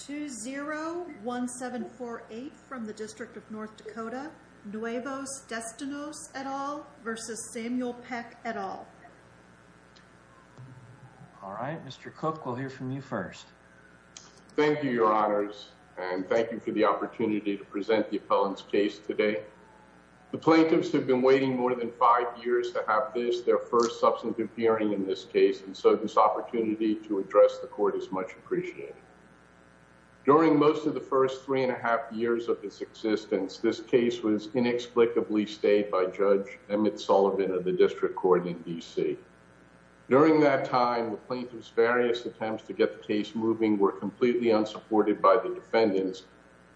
2-0-1-7-4-8 from the District of North Dakota, Nuevos Destinos, et al. v. Samuel Peck, et al. All right, Mr. Cook, we'll hear from you first. Thank you, your honors, and thank you for the opportunity to present the appellant's case today. The plaintiffs have been waiting more than five years to have this, their first substantive hearing in this case, and so this opportunity to address the court is much appreciated. During most of the first three and a half years of this existence, this case was inexplicably stayed by Judge Emmett Sullivan of the District Court in D.C. During that time, the plaintiff's various attempts to get the case moving were completely unsupported by the defendants,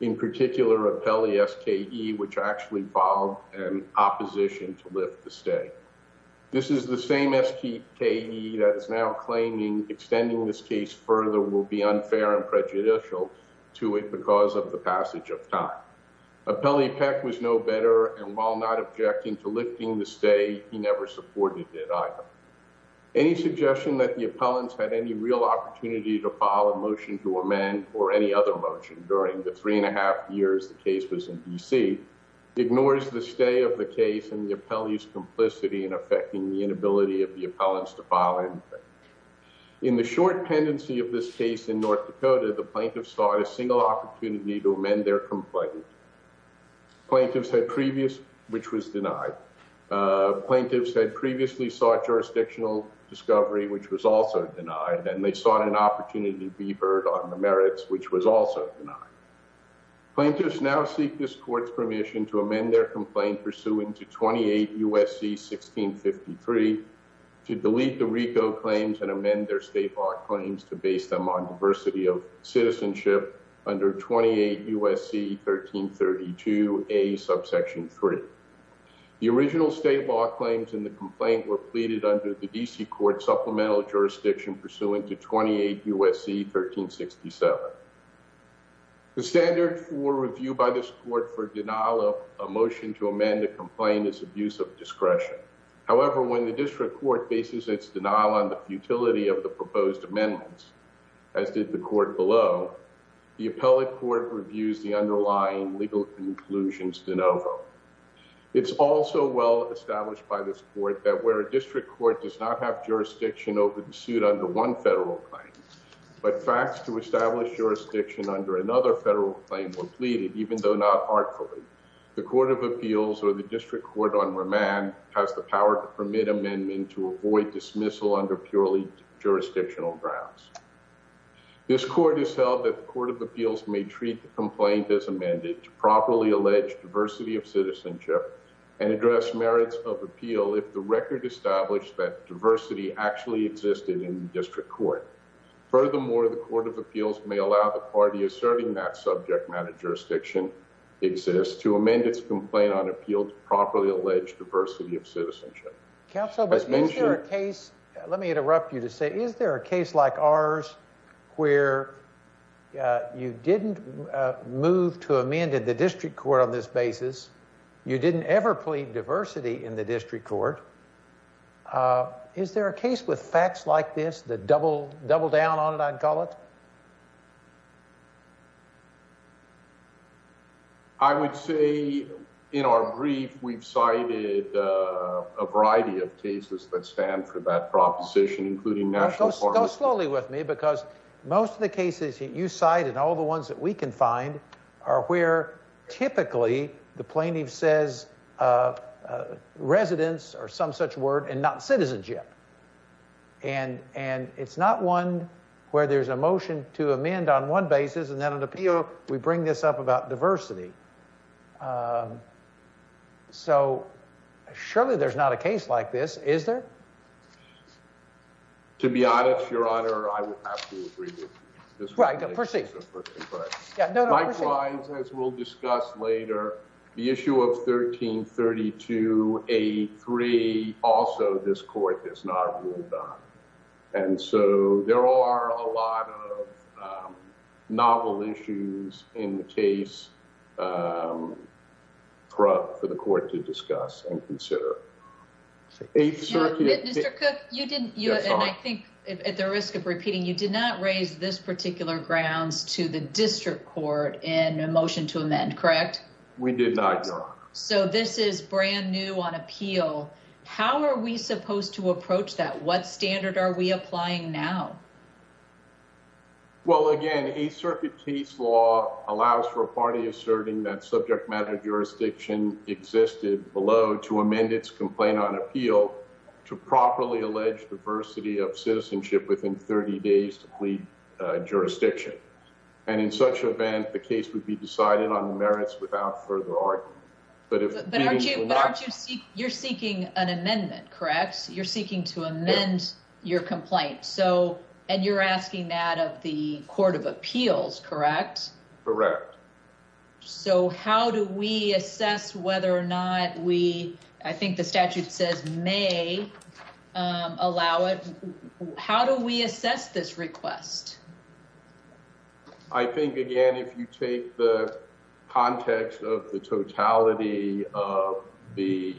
in particular, Appellee S.K.E., which actually filed an opposition to lift the stay. This is the same S.K.E. that is now claiming extending this case further will be unfair and prejudicial to it because of the passage of time. Appellee Peck was no better, and while not objecting to lifting the stay, he never supported it either. Any suggestion that the appellants had any real opportunity to file a motion to amend or any other motion during the appellee's complicity in affecting the inability of the appellants to file anything. In the short tendency of this case in North Dakota, the plaintiffs sought a single opportunity to amend their complaint. Plaintiffs had previous, which was denied. Plaintiffs had previously sought jurisdictional discovery, which was also denied, and they sought an opportunity to be heard on the merits, which was also denied. Plaintiffs now seek this court's permission to amend their complaint pursuant to 28 U.S.C. 1653 to delete the RICO claims and amend their state law claims to base them on diversity of citizenship under 28 U.S.C. 1332A subsection 3. The original state law claims in the complaint were pleaded under the D.C. court supplemental jurisdiction pursuant to 28 U.S.C. 1367. The standard for review by this court for denial of a motion to amend a complaint is abuse of discretion. However, when the district court faces its denial on the futility of the proposed amendments, as did the court below, the appellate court reviews the underlying legal conclusions de novo. It's also well established by this court that where a district court does not have jurisdiction under another federal claim was pleaded, even though not artfully, the court of appeals or the district court on remand has the power to permit amendment to avoid dismissal under purely jurisdictional grounds. This court has held that the court of appeals may treat the complaint as amended to properly allege diversity of citizenship and address merits of appeal if the record established that diversity actually existed in the district court. Furthermore, the court of appeals may allow the party asserting that subject matter jurisdiction exists to amend its complaint on appeal to properly allege diversity of citizenship. Counsel, is there a case, let me interrupt you to say, is there a case like ours where you didn't move to amend the district court on this basis, you didn't ever plead diversity in district court. Is there a case with facts like this that double down on it, I'd call it? I would say in our brief, we've cited a variety of cases that stand for that proposition, including national. Go slowly with me because most of the cases you cite and all the ones that we can find are where typically the plaintiff says residence or some such word and not citizenship and it's not one where there's a motion to amend on one basis and then an appeal we bring this up about diversity. So surely there's not a case like this, is there? To be honest, your honor, I would have to agree with you. Likewise, as we'll discuss later, the issue of 1332A3, also this court has not ruled on. And so there are a lot of novel issues in the case for the court to discuss and consider. Mr. Cook, I think at the risk of repeating, you did not raise this particular grounds to the district court in a motion to amend, correct? We did not, your honor. So this is brand new on appeal. How are we supposed to approach that? What standard are we applying now? Well, again, a circuit case law allows for a party asserting that subject matter jurisdiction existed below to amend its complaint on appeal to properly allege diversity of citizenship within 30 days to plead jurisdiction. And in such event, the case would be decided on the merits without further argument. But you're seeking an amendment, correct? You're seeking to amend your complaint. And you're asking that of the court of appeals, correct? Correct. So how do we assess whether or not we, I think the statute says may allow it. How do we assess this request? I think, again, if you take the context of the totality of the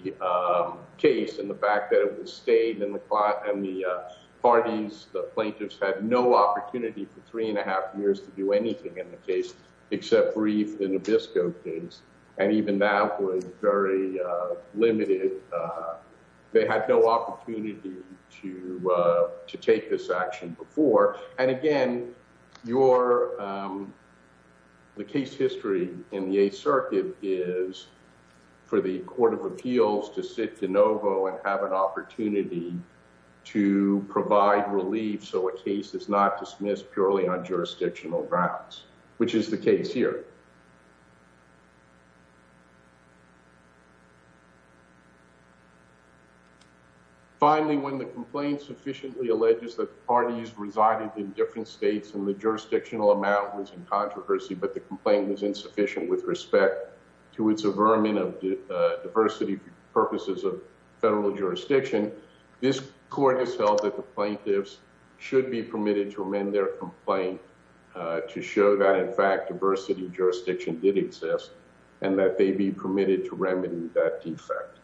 case and the fact that it was stayed in the parties, the plaintiffs had no opportunity for three and a half years to do anything in the case except brief an obisco case. And even that was very limited. They had no opportunity to take this action before. And again, the case history in the Eighth Circuit is for the court of appeals to sit de novo and have an opportunity to provide relief so a case is not dismissed purely on jurisdictional grounds, which is the case here. Finally, when the complaint sufficiently alleges that parties resided in different states and the jurisdictional amount was in controversy, but the complaint was insufficient with respect to its averment of diversity purposes of federal jurisdiction, this court has held that the plaintiff should not be held liable for the fact that the parties resided in their complaint to show that, in fact, diversity of jurisdiction did exist and that they be permitted to remedy that defect.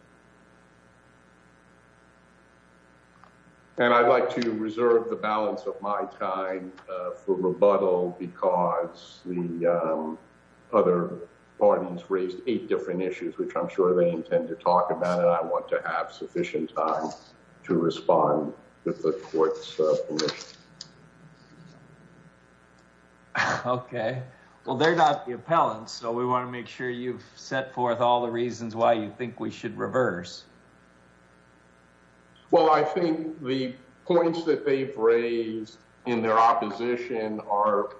And I'd like to reserve the balance of my time for rebuttal because the other parties raised eight different issues, which I'm sure they intend to talk about, and I want to have sufficient time to respond with the court's permission. Okay. Well, they're not the appellants, so we want to make sure you've set forth all the reasons why you think we should reverse. Well, I think the points that they've raised in their opposition are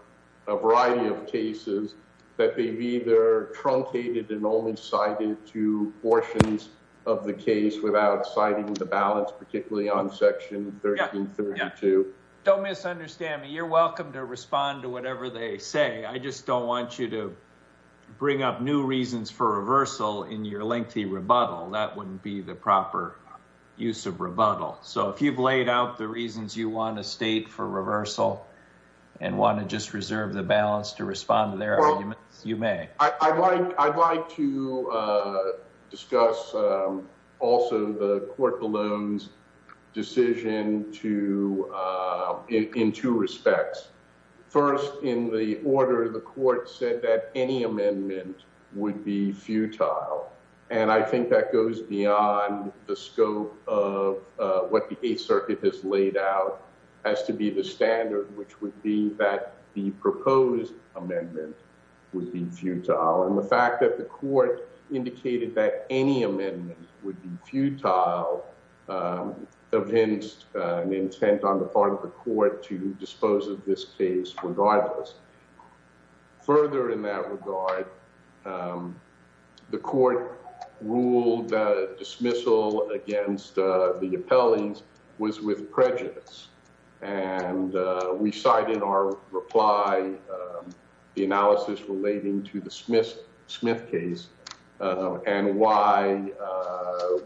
a variety of cases that they've either truncated and only cited two portions of the case without citing the balance, particularly on section 1332. Don't misunderstand me. You're welcome to respond to whatever they say. I just don't want you to bring up new reasons for reversal in your lengthy rebuttal. That wouldn't be the proper use of rebuttal. So if you've laid out the reasons you want to state for reversal and want to just reserve the balance to respond to their arguments, you may. I'd like to discuss also the court balloon's decision in two respects. First, in the order, the court said that any amendment would be futile, and I think that goes beyond the scope of what the Eighth Circuit has laid out as to be the standard, which would be that the proposed amendment would be futile. And the fact that the court indicated that any amendment would be futile evinced an intent on the part of the court to dispose of this case regardless. Further in that regard, the court ruled dismissal against the appellees was with prejudice, and we cite in our reply the analysis relating to the Smith case and why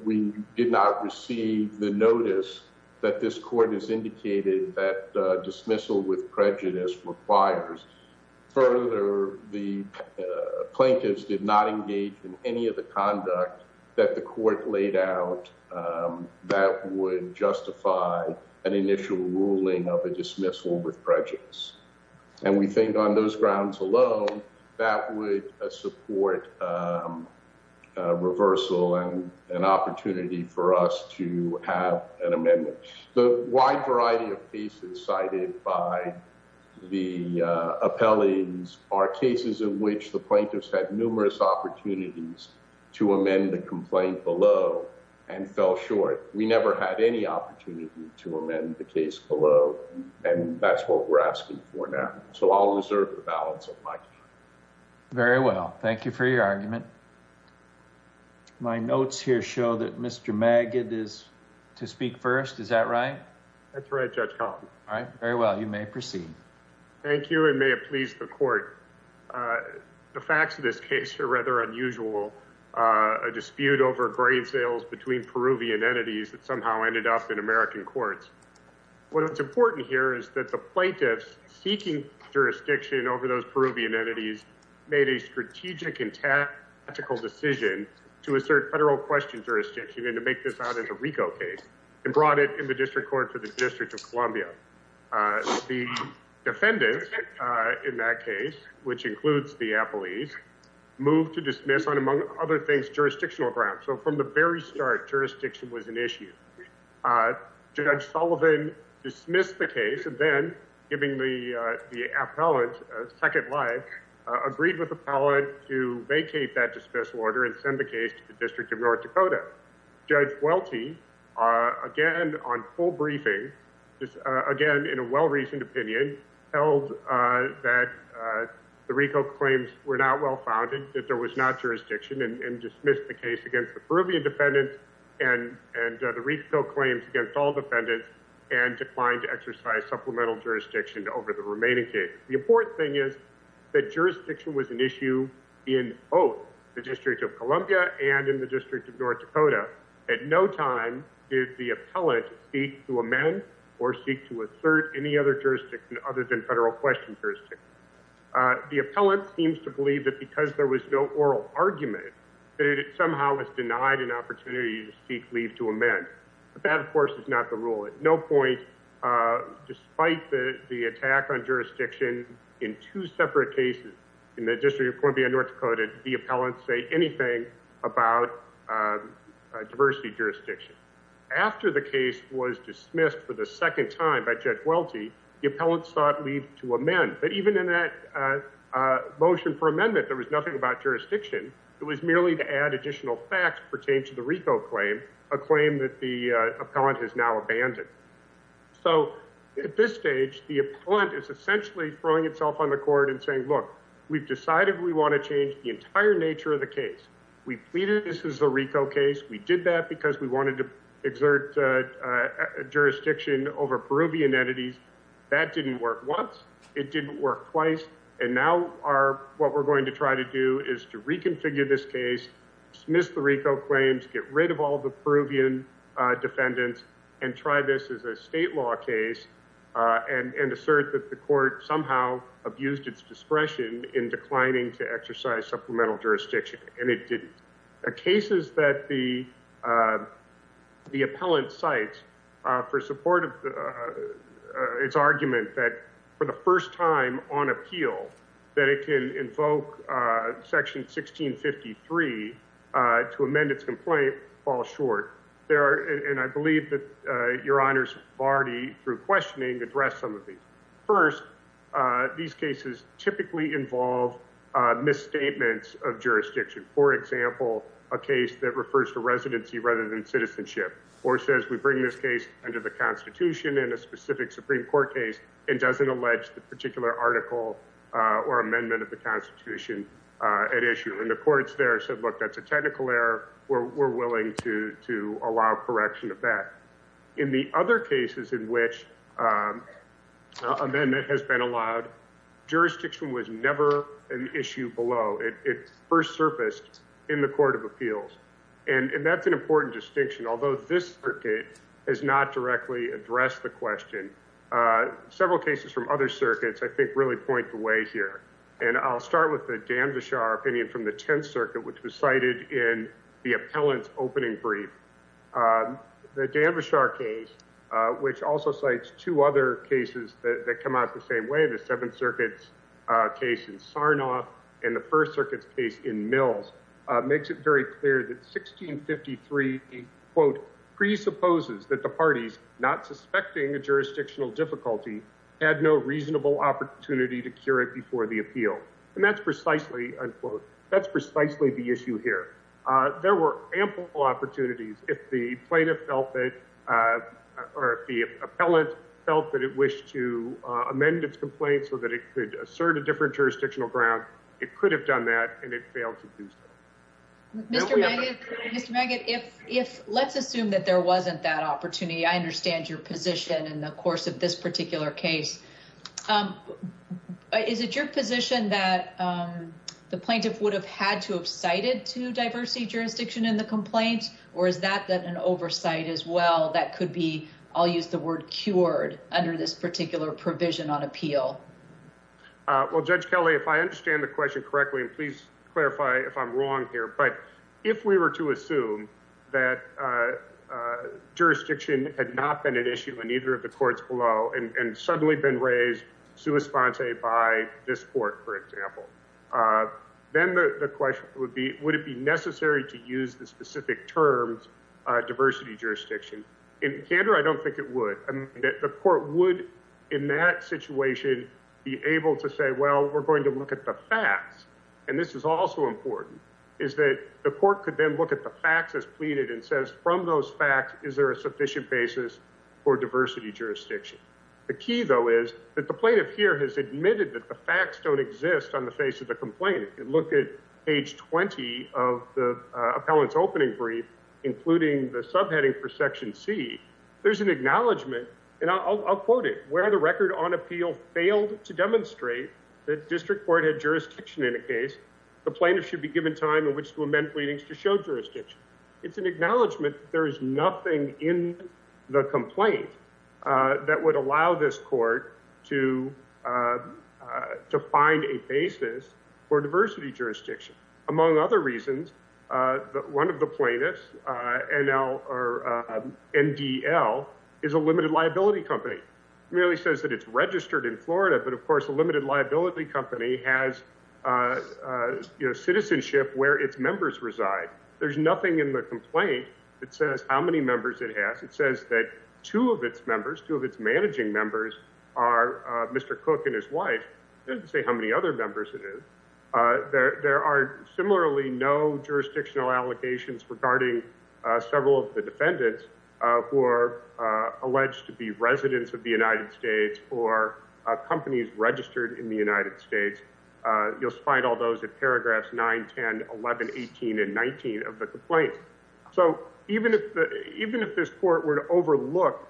we did not require dismissal with prejudice. Further, the plaintiffs did not engage in any of the conduct that the court laid out that would justify an initial ruling of a dismissal with prejudice. And we think on those grounds alone, that would support reversal and an opportunity for us to the appellees are cases in which the plaintiffs had numerous opportunities to amend the complaint below and fell short. We never had any opportunity to amend the case below, and that's what we're asking for now. So I'll reserve the balance of my time. Very well. Thank you for your argument. My notes here show that Mr. Magid is to speak first. Is that right? That's right, Judge Collins. All right, very well. You may proceed. Thank you, and may it please the court. The facts of this case are rather unusual. A dispute over grade sales between Peruvian entities that somehow ended up in American courts. What is important here is that the plaintiffs seeking jurisdiction over those Peruvian entities made a strategic and tactical decision to assert federal question jurisdiction and to make this RICO case and brought it in the district court for the District of Columbia. The defendants in that case, which includes the appellees, moved to dismiss on, among other things, jurisdictional grounds. So from the very start, jurisdiction was an issue. Judge Sullivan dismissed the case and then, giving the appellant a second life, agreed with the appellant to vacate that dismissal order and send the case to the District of North Dakota. Judge Welty, again, on full briefing, again, in a well-reasoned opinion, held that the RICO claims were not well-founded, that there was not jurisdiction, and dismissed the case against the Peruvian defendants and the RICO claims against all defendants and declined to exercise supplemental jurisdiction over the remaining case. The important thing is that jurisdiction was an issue in both the District of Columbia and in the District of North Dakota. At no time did the appellant seek to amend or seek to assert any other jurisdiction other than federal question jurisdiction. The appellant seems to believe that because there was no oral argument, that it somehow was denied an opportunity to seek leave to amend. But that, of course, is not the rule. At no point, despite the attack on jurisdiction in two separate cases in the District of Columbia and North Dakota, did the appellant say anything about diversity jurisdiction. After the case was dismissed for the second time by Judge Welty, the appellant sought leave to amend. But even in that motion for amendment, there was nothing about jurisdiction. It was merely to add additional facts pertaining to a claim that the appellant has now abandoned. So at this stage, the appellant is essentially throwing itself on the court and saying, look, we've decided we want to change the entire nature of the case. We pleaded this is a RICO case. We did that because we wanted to exert jurisdiction over Peruvian entities. That didn't work once. It didn't work twice. And now what we're going to try to do is to reconfigure this case, dismiss the RICO claims, get rid of all the Peruvian defendants, and try this as a state law case and assert that the court somehow abused its discretion in declining to exercise supplemental jurisdiction. And it didn't. The cases that the appellant cites for support of its argument that for the first time on appeal, that it can invoke Section 1653 to amend its complaint fall short. And I believe that your honors have already, through questioning, addressed some of these. First, these cases typically involve misstatements of jurisdiction. For example, a case that refers to residency rather than citizenship, or says we bring this case under the Constitution in a specific Supreme Court case, and doesn't allege the particular article or amendment of the Constitution at issue. And the courts there said, look, that's a technical error. We're willing to allow correction of that. In the other cases in which amendment has been allowed, jurisdiction was never an issue below. It first surfaced in the Court of Appeals. And that's an important distinction. Although this circuit has not directly addressed the question, several cases from other circuits, I think, really point the way here. And I'll start with the Danvishar opinion from the Tenth Circuit, which was cited in the appellant's opening brief. The Danvishar case, which also cites two other cases that come out the same way, the Seventh Circuit's case in Sarnoff and the First Circuit's case in Mills, makes it very clear that 1653, quote, presupposes that the parties not suspecting a jurisdictional difficulty had no reasonable opportunity to cure it before the appeal. And that's precisely, unquote, that's precisely the issue here. There were ample opportunities if the plaintiff felt that, or if the appellant felt that it wished to amend its complaint so that it could assert a different jurisdictional ground. It could have done that, and it failed to do so. Mr. Maggott, let's assume that there wasn't that opportunity. I understand your position in the course of this particular case. Is it your position that the plaintiff would have had to have cited two diversity jurisdictions in the complaint, or is that an oversight as well that could be, I'll use the word, cured under this particular provision on appeal? Well, Judge Kelley, if I understand the question correctly, and please clarify if I'm wrong here, but if we were to assume that jurisdiction had not been an issue in either of the courts below and suddenly been raised sua sponte by this court, for example, then the question would be, would it be necessary to use the specific terms, diversity jurisdiction? In candor, I don't think it would. The court would, in that situation, be able to say, well, we're going to look at the facts, and this is also important, is that the court could then look at the facts as pleaded and says, from those facts, is there a sufficient basis for diversity jurisdiction? The key, though, is that the plaintiff here has admitted that the facts don't exist on the face of the complaint. If you look at page 20 of the appellant's opening brief, including the subheading for section C, there's an acknowledgment, and I'll quote it, where the record on appeal failed to demonstrate that district court had jurisdiction in a case, the plaintiff should be given time in which to amend pleadings to show jurisdiction. It's an acknowledgment that there is nothing in the complaint that would allow this court to find a basis for diversity jurisdiction. Among other reasons, one of the plaintiffs, NDL, is a limited liability company. It merely says that it's registered in Florida, but, of course, a limited liability company has citizenship where its members reside. There's nothing in the complaint that says how many members it has. It says that two of its members, two of its managing members, are Mr. Cook and his wife. It doesn't say how many other members it is. There are similarly no jurisdictional allocations regarding several of the defendants who are alleged to be residents of the United States or companies registered in the United States. You'll find all those in paragraphs 9, 10, 11, 18, and 19 of the complaint. So even if this court were to overlook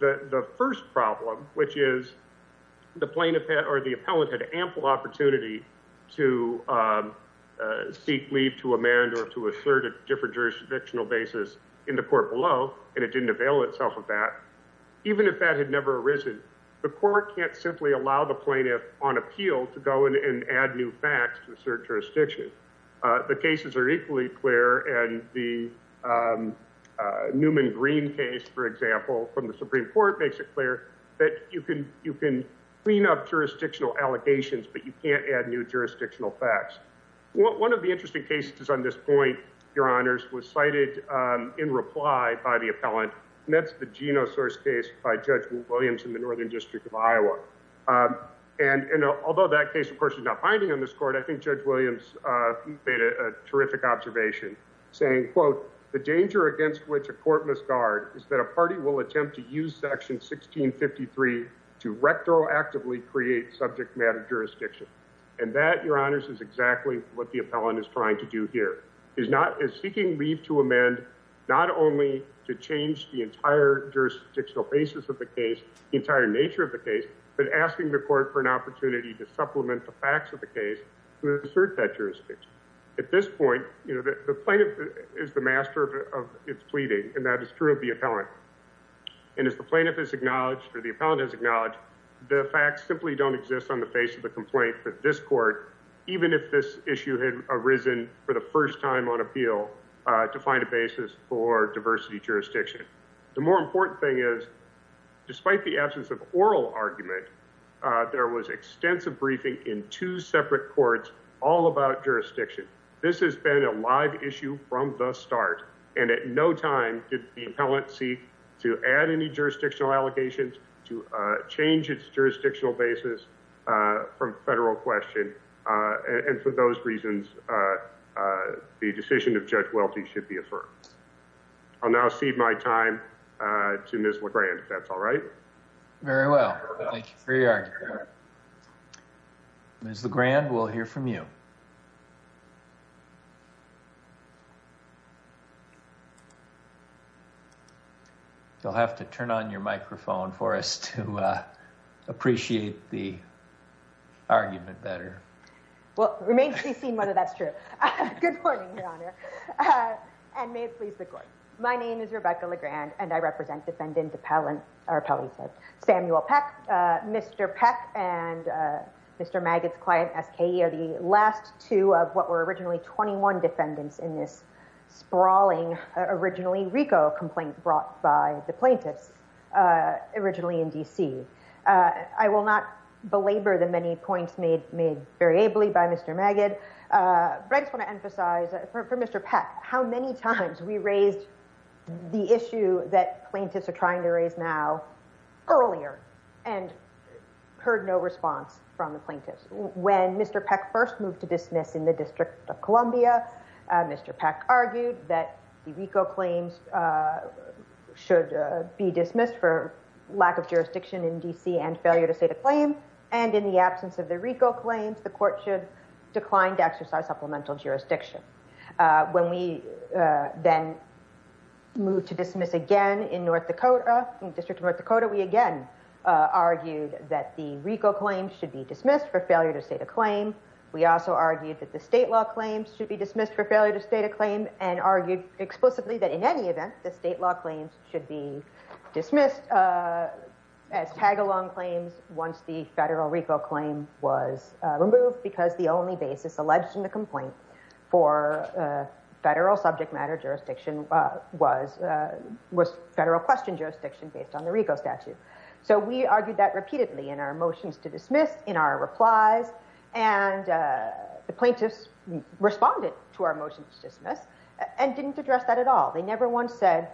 the first problem, which is the plaintiff or the appellant had ample opportunity to seek leave to amend or to assert a different jurisdictional basis in the court below, and it didn't avail itself of that, even if that had never arisen, the court can't simply allow the plaintiff on appeal to go in and add new facts to assert jurisdiction. The cases are equally clear, and the Newman-Green case, for example, from the Supreme Court makes it clear that you can clean up jurisdictional allegations, but you can't add new jurisdictional facts. One of the interesting cases on this point, Your Honors, was cited in reply by the appellant, and that's the Geno source case by Judge Williams in the Northern District of Iowa. And although that case, of course, is not binding on this court, I think Judge Williams made a terrific observation, saying, quote, the danger against which a court must guard is that a party will attempt to use section 1653 to retroactively create subject matter jurisdiction. And that, Your Honors, is exactly what the appellant is trying to do here, is seeking leave to amend not only to change the entire jurisdictional basis of the case, the entire nature of the case, but asking the court for an opportunity to supplement the facts of the case to assert that jurisdiction. At this point, the plaintiff is the master of its pleading, and that is true of the appellant. And as the plaintiff has acknowledged, or the appellant has acknowledged, the facts simply don't exist on the face of the complaint for this court, even if this issue had arisen for the first time on appeal to find a basis for diversity jurisdiction. The more important thing is, despite the absence of oral argument, there was extensive briefing in two separate courts all about jurisdiction. This has been a live issue from the start, and at no time did the appellant seek to add any jurisdictional allegations, to change its jurisdictional basis from federal question. And for those reasons, the decision of Judge Welty should be affirmed. I'll now cede my time to Ms. LeGrand, if that's alright. Very well, thank you for your argument. Ms. LeGrand, we'll hear from you. You'll have to turn on your microphone for us to appreciate the argument better. Well, it remains to be seen whether that's true. Good morning, Your Honor, and may it please the Samuel Peck. Mr. Peck and Mr. Magid's client, S.K.E., are the last two of what were originally 21 defendants in this sprawling, originally RICO complaint brought by the plaintiffs, originally in D.C. I will not belabor the many points made very ably by Mr. Magid, but I just want to emphasize, for Mr. Peck, how many times we raised the issue that plaintiffs are trying to raise now earlier and heard no response from the plaintiffs. When Mr. Peck first moved to dismiss in the District of Columbia, Mr. Peck argued that the RICO claims should be dismissed for lack of jurisdiction in D.C. and failure to state a claim, and in the absence of the RICO claims, the court should decline to exercise supplemental jurisdiction. When we then moved to dismiss again in North Dakota, in the District of North Dakota, we again argued that the RICO claims should be dismissed for failure to state a claim. We also argued that the state law claims should be dismissed for failure to state a claim and argued explicitly that in any event, the state law claims should be dismissed as tag-along claims once the federal RICO claim was removed because the only basis alleged in the complaint for federal subject matter jurisdiction was federal question jurisdiction based on the RICO statute. So we argued that repeatedly in our motions to dismiss, in our replies, and the plaintiffs responded to our motions to dismiss and didn't address that at all. They never once said,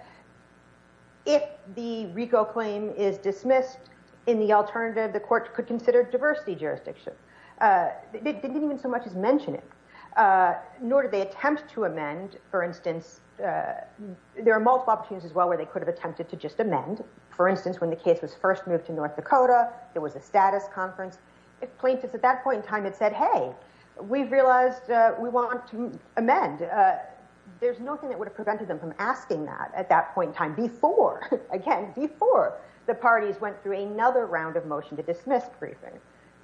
if the RICO claim is dismissed, in the alternative, the court could consider diversity jurisdiction. They didn't even so much as mention it, nor did they attempt to amend. For instance, there are multiple opportunities as well where they could have attempted to just amend. For instance, when the case was first moved to North Dakota, there was a status conference. If plaintiffs at that point in time had said, hey, we've realized we want to amend, there's nothing that would have prevented them from asking that at that point in time before, again, before the parties went through another round of motion to dismiss briefing.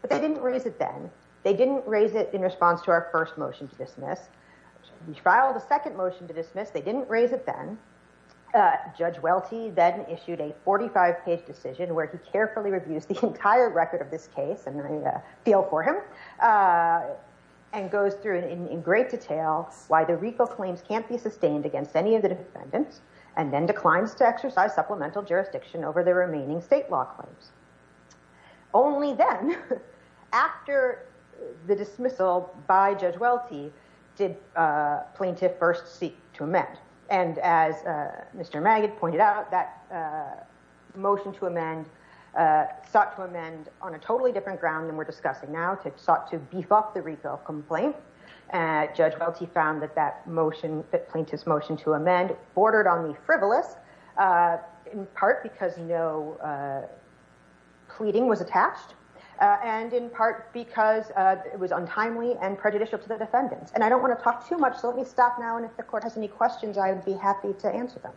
But they didn't raise it then. They didn't raise it in response to our first motion to dismiss. We filed a second motion to dismiss. They didn't raise it then. Judge Welty then issued a 45-page decision where he carefully reviews the entire record of this case, and I feel for him, and goes through in great detail why the RICO claims can't be sustained against any of the defendants, and then declines to exercise supplemental jurisdiction over the remaining state law claims. Only then, after the dismissal by Judge Welty, did plaintiff first seek to amend. And as Mr. Magid pointed out, that motion to amend sought to amend on a totally different ground than we're at. Judge Welty found that that motion, that plaintiff's motion to amend, bordered on the frivolous, in part because no pleading was attached, and in part because it was untimely and prejudicial to the defendants. And I don't want to talk too much, so let me stop now, and if the court has any questions, I would be happy to answer them.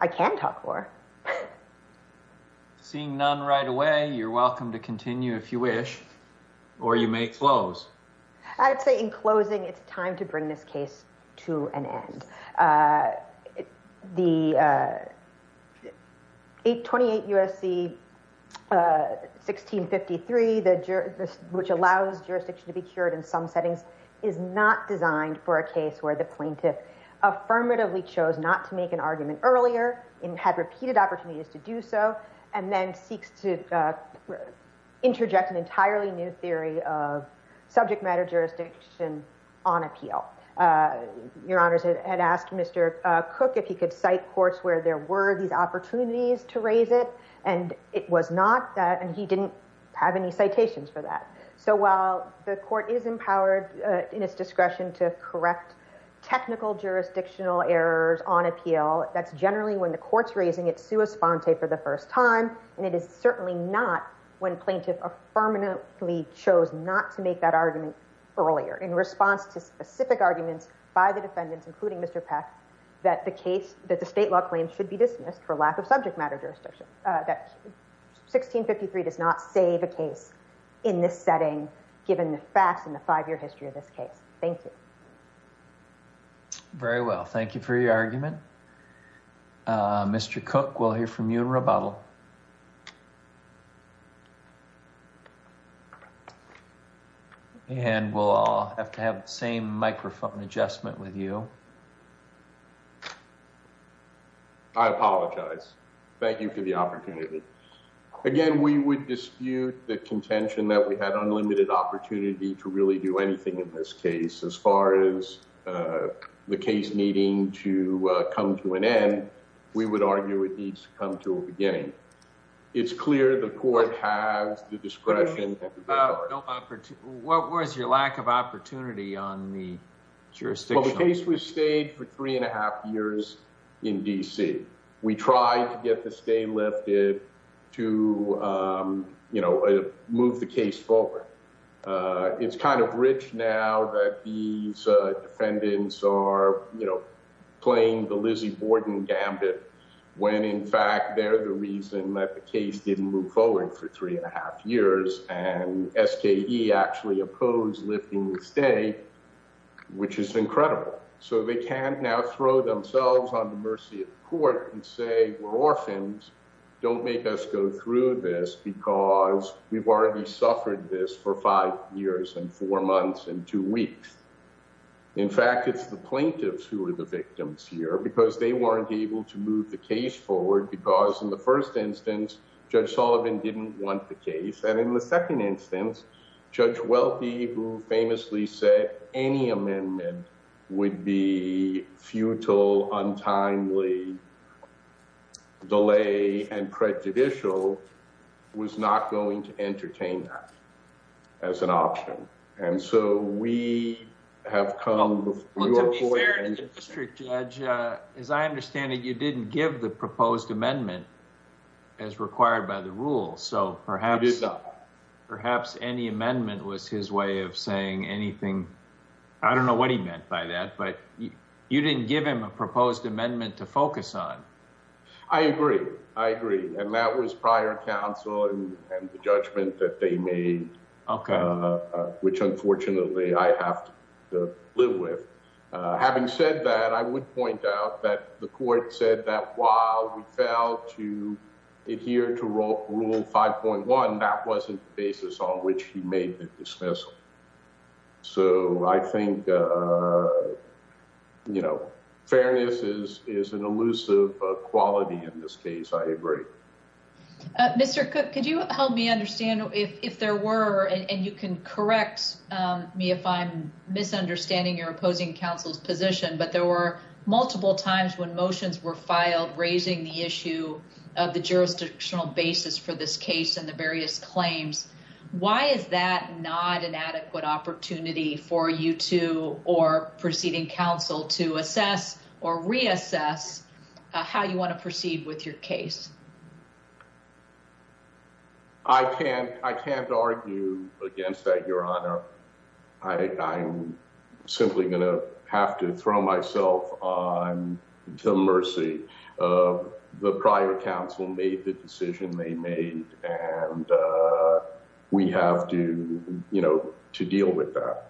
I can talk more. Seeing none right away, you're welcome to continue if you wish, or you may close. I'd say in closing, it's time to bring this case to an end. The 28 U.S.C. 1653, which allows jurisdiction to be cured in some settings, is not designed for a case where plaintiff affirmatively chose not to make an argument earlier, and had repeated opportunities to do so, and then seeks to interject an entirely new theory of subject matter jurisdiction on appeal. Your Honors, I had asked Mr. Cook if he could cite courts where there were these opportunities to raise it, and it was not, and he didn't have any citations for that. So while the court is empowered in its discretion to correct technical jurisdictional errors on appeal, that's generally when the court's raising its sua sponte for the first time, and it is certainly not when plaintiff affirmatively chose not to make that argument earlier in response to specific arguments by the defendants, including Mr. Peck, that the case, that the state law claim should be dismissed for lack of subject matter jurisdiction, that 1653 does not save a case in this setting, given the facts and the five-year history of this case. Thank you. Very well. Thank you for your argument. Mr. Cook, we'll hear from you in rebuttal. And we'll all have to have the same microphone adjustment with you. I apologize. Thank you for the opportunity. Again, we would dispute the contention that we had unlimited opportunity to really do anything in this case. As far as the case needing to come to an end, we would argue it needs to come to a beginning. It's clear the court has the discretion. What was your lack of opportunity on the jurisdiction? Well, the case was stayed for three and a half years in D.C. We tried to get the stay lifted to move the case forward. It's kind of rich now that these defendants are playing the Lizzie Borden gambit, when in fact they're the reason that the case didn't move forward for three and a half years, and S.K.E. actually opposed lifting the stay, which is incredible. So they can now throw themselves on the mercy of the court and say, we're orphans. Don't make us go through this, because we've already suffered this for five years and four months and two weeks. In fact, it's the plaintiffs who are the victims here, because they weren't able to move the case forward, because in the first instance, Judge Sullivan didn't want the case. And in the second instance, Judge Welty, who famously said any amendment would be futile, untimely, delay, and prejudicial, was not going to entertain that as an option. And so we have come... Well, to be fair to the district judge, as I understand it, you didn't give the proposed amendment as required by the rules. So perhaps... I did not. Perhaps any amendment was his way of saying anything. I don't know what he meant by that, but you didn't give him a proposed amendment to focus on. I agree. I agree. And that was prior counsel and the judgment that they made, which unfortunately I have to live with. Having said that, I would point out that the court said that while we failed to adhere to rule 5.1, that wasn't the basis on which he made the dismissal. So I think you know, fairness is an elusive quality in this case. I agree. Mr. Cook, could you help me understand if there were, and you can correct me if I'm misunderstanding your opposing counsel's position, but there were multiple times when motions were filed raising the issue of the jurisdictional basis for this case and the various claims. Why is that not an adequate opportunity for you two or proceeding counsel to assess or reassess how you want to proceed with your case? I can't argue against that, Your Honor. I'm simply going to have to throw myself onto mercy. The prior counsel made the decision they made, and we have to, you know, to deal with that.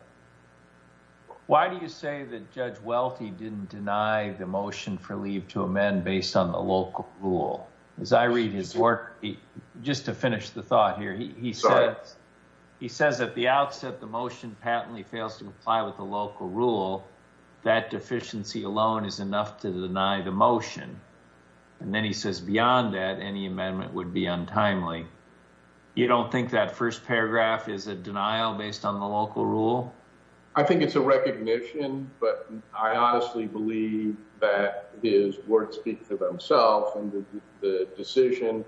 Why do you say that Judge Welty didn't deny the motion for leave to amend based on the local rule? As I read his work, just to finish the thought here, he says at the outset the motion patently fails to comply with the local rule. That deficiency alone is enough to deny the motion. And then he says beyond that, any amendment would be untimely. You don't think that first paragraph is a denial based on the local rule? I think it's a recognition, but I honestly believe that his words speak for themselves, and the decision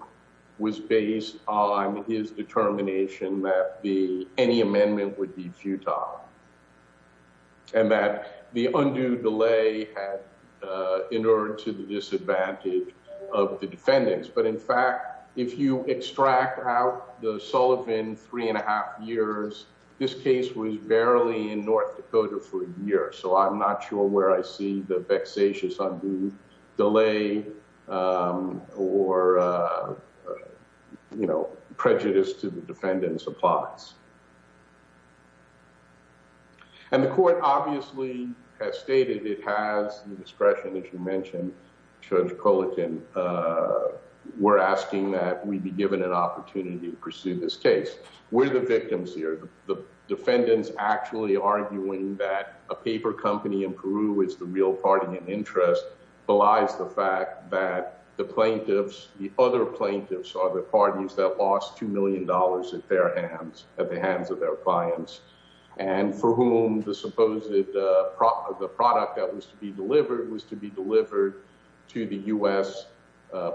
was based on his determination that any amendment would be futile and that the undue delay had inured to the disadvantage of the defendants. But in fact, if you extract out the Sullivan three and a half years, this case was barely in North Dakota for a or, you know, prejudice to the defendants applies. And the court obviously has stated it has discretion, as you mentioned, Judge Culligan, we're asking that we be given an opportunity to pursue this case. We're the victims here. The defendants actually arguing that a paper company in Peru is the real party in interest belies the plaintiffs. The other plaintiffs are the parties that lost two million dollars at their hands, at the hands of their clients, and for whom the supposed the product that was to be delivered was to be delivered to the U.S.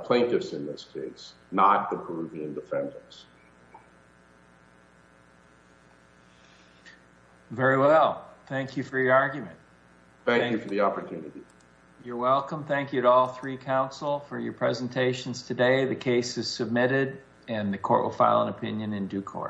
plaintiffs in this case, not the Peruvian defendants. Very well. Thank you for your argument. Thank you for the opportunity. You're welcome. Thank you to all three counsel for your presentations today. The case is submitted and the court will file an opinion in due course.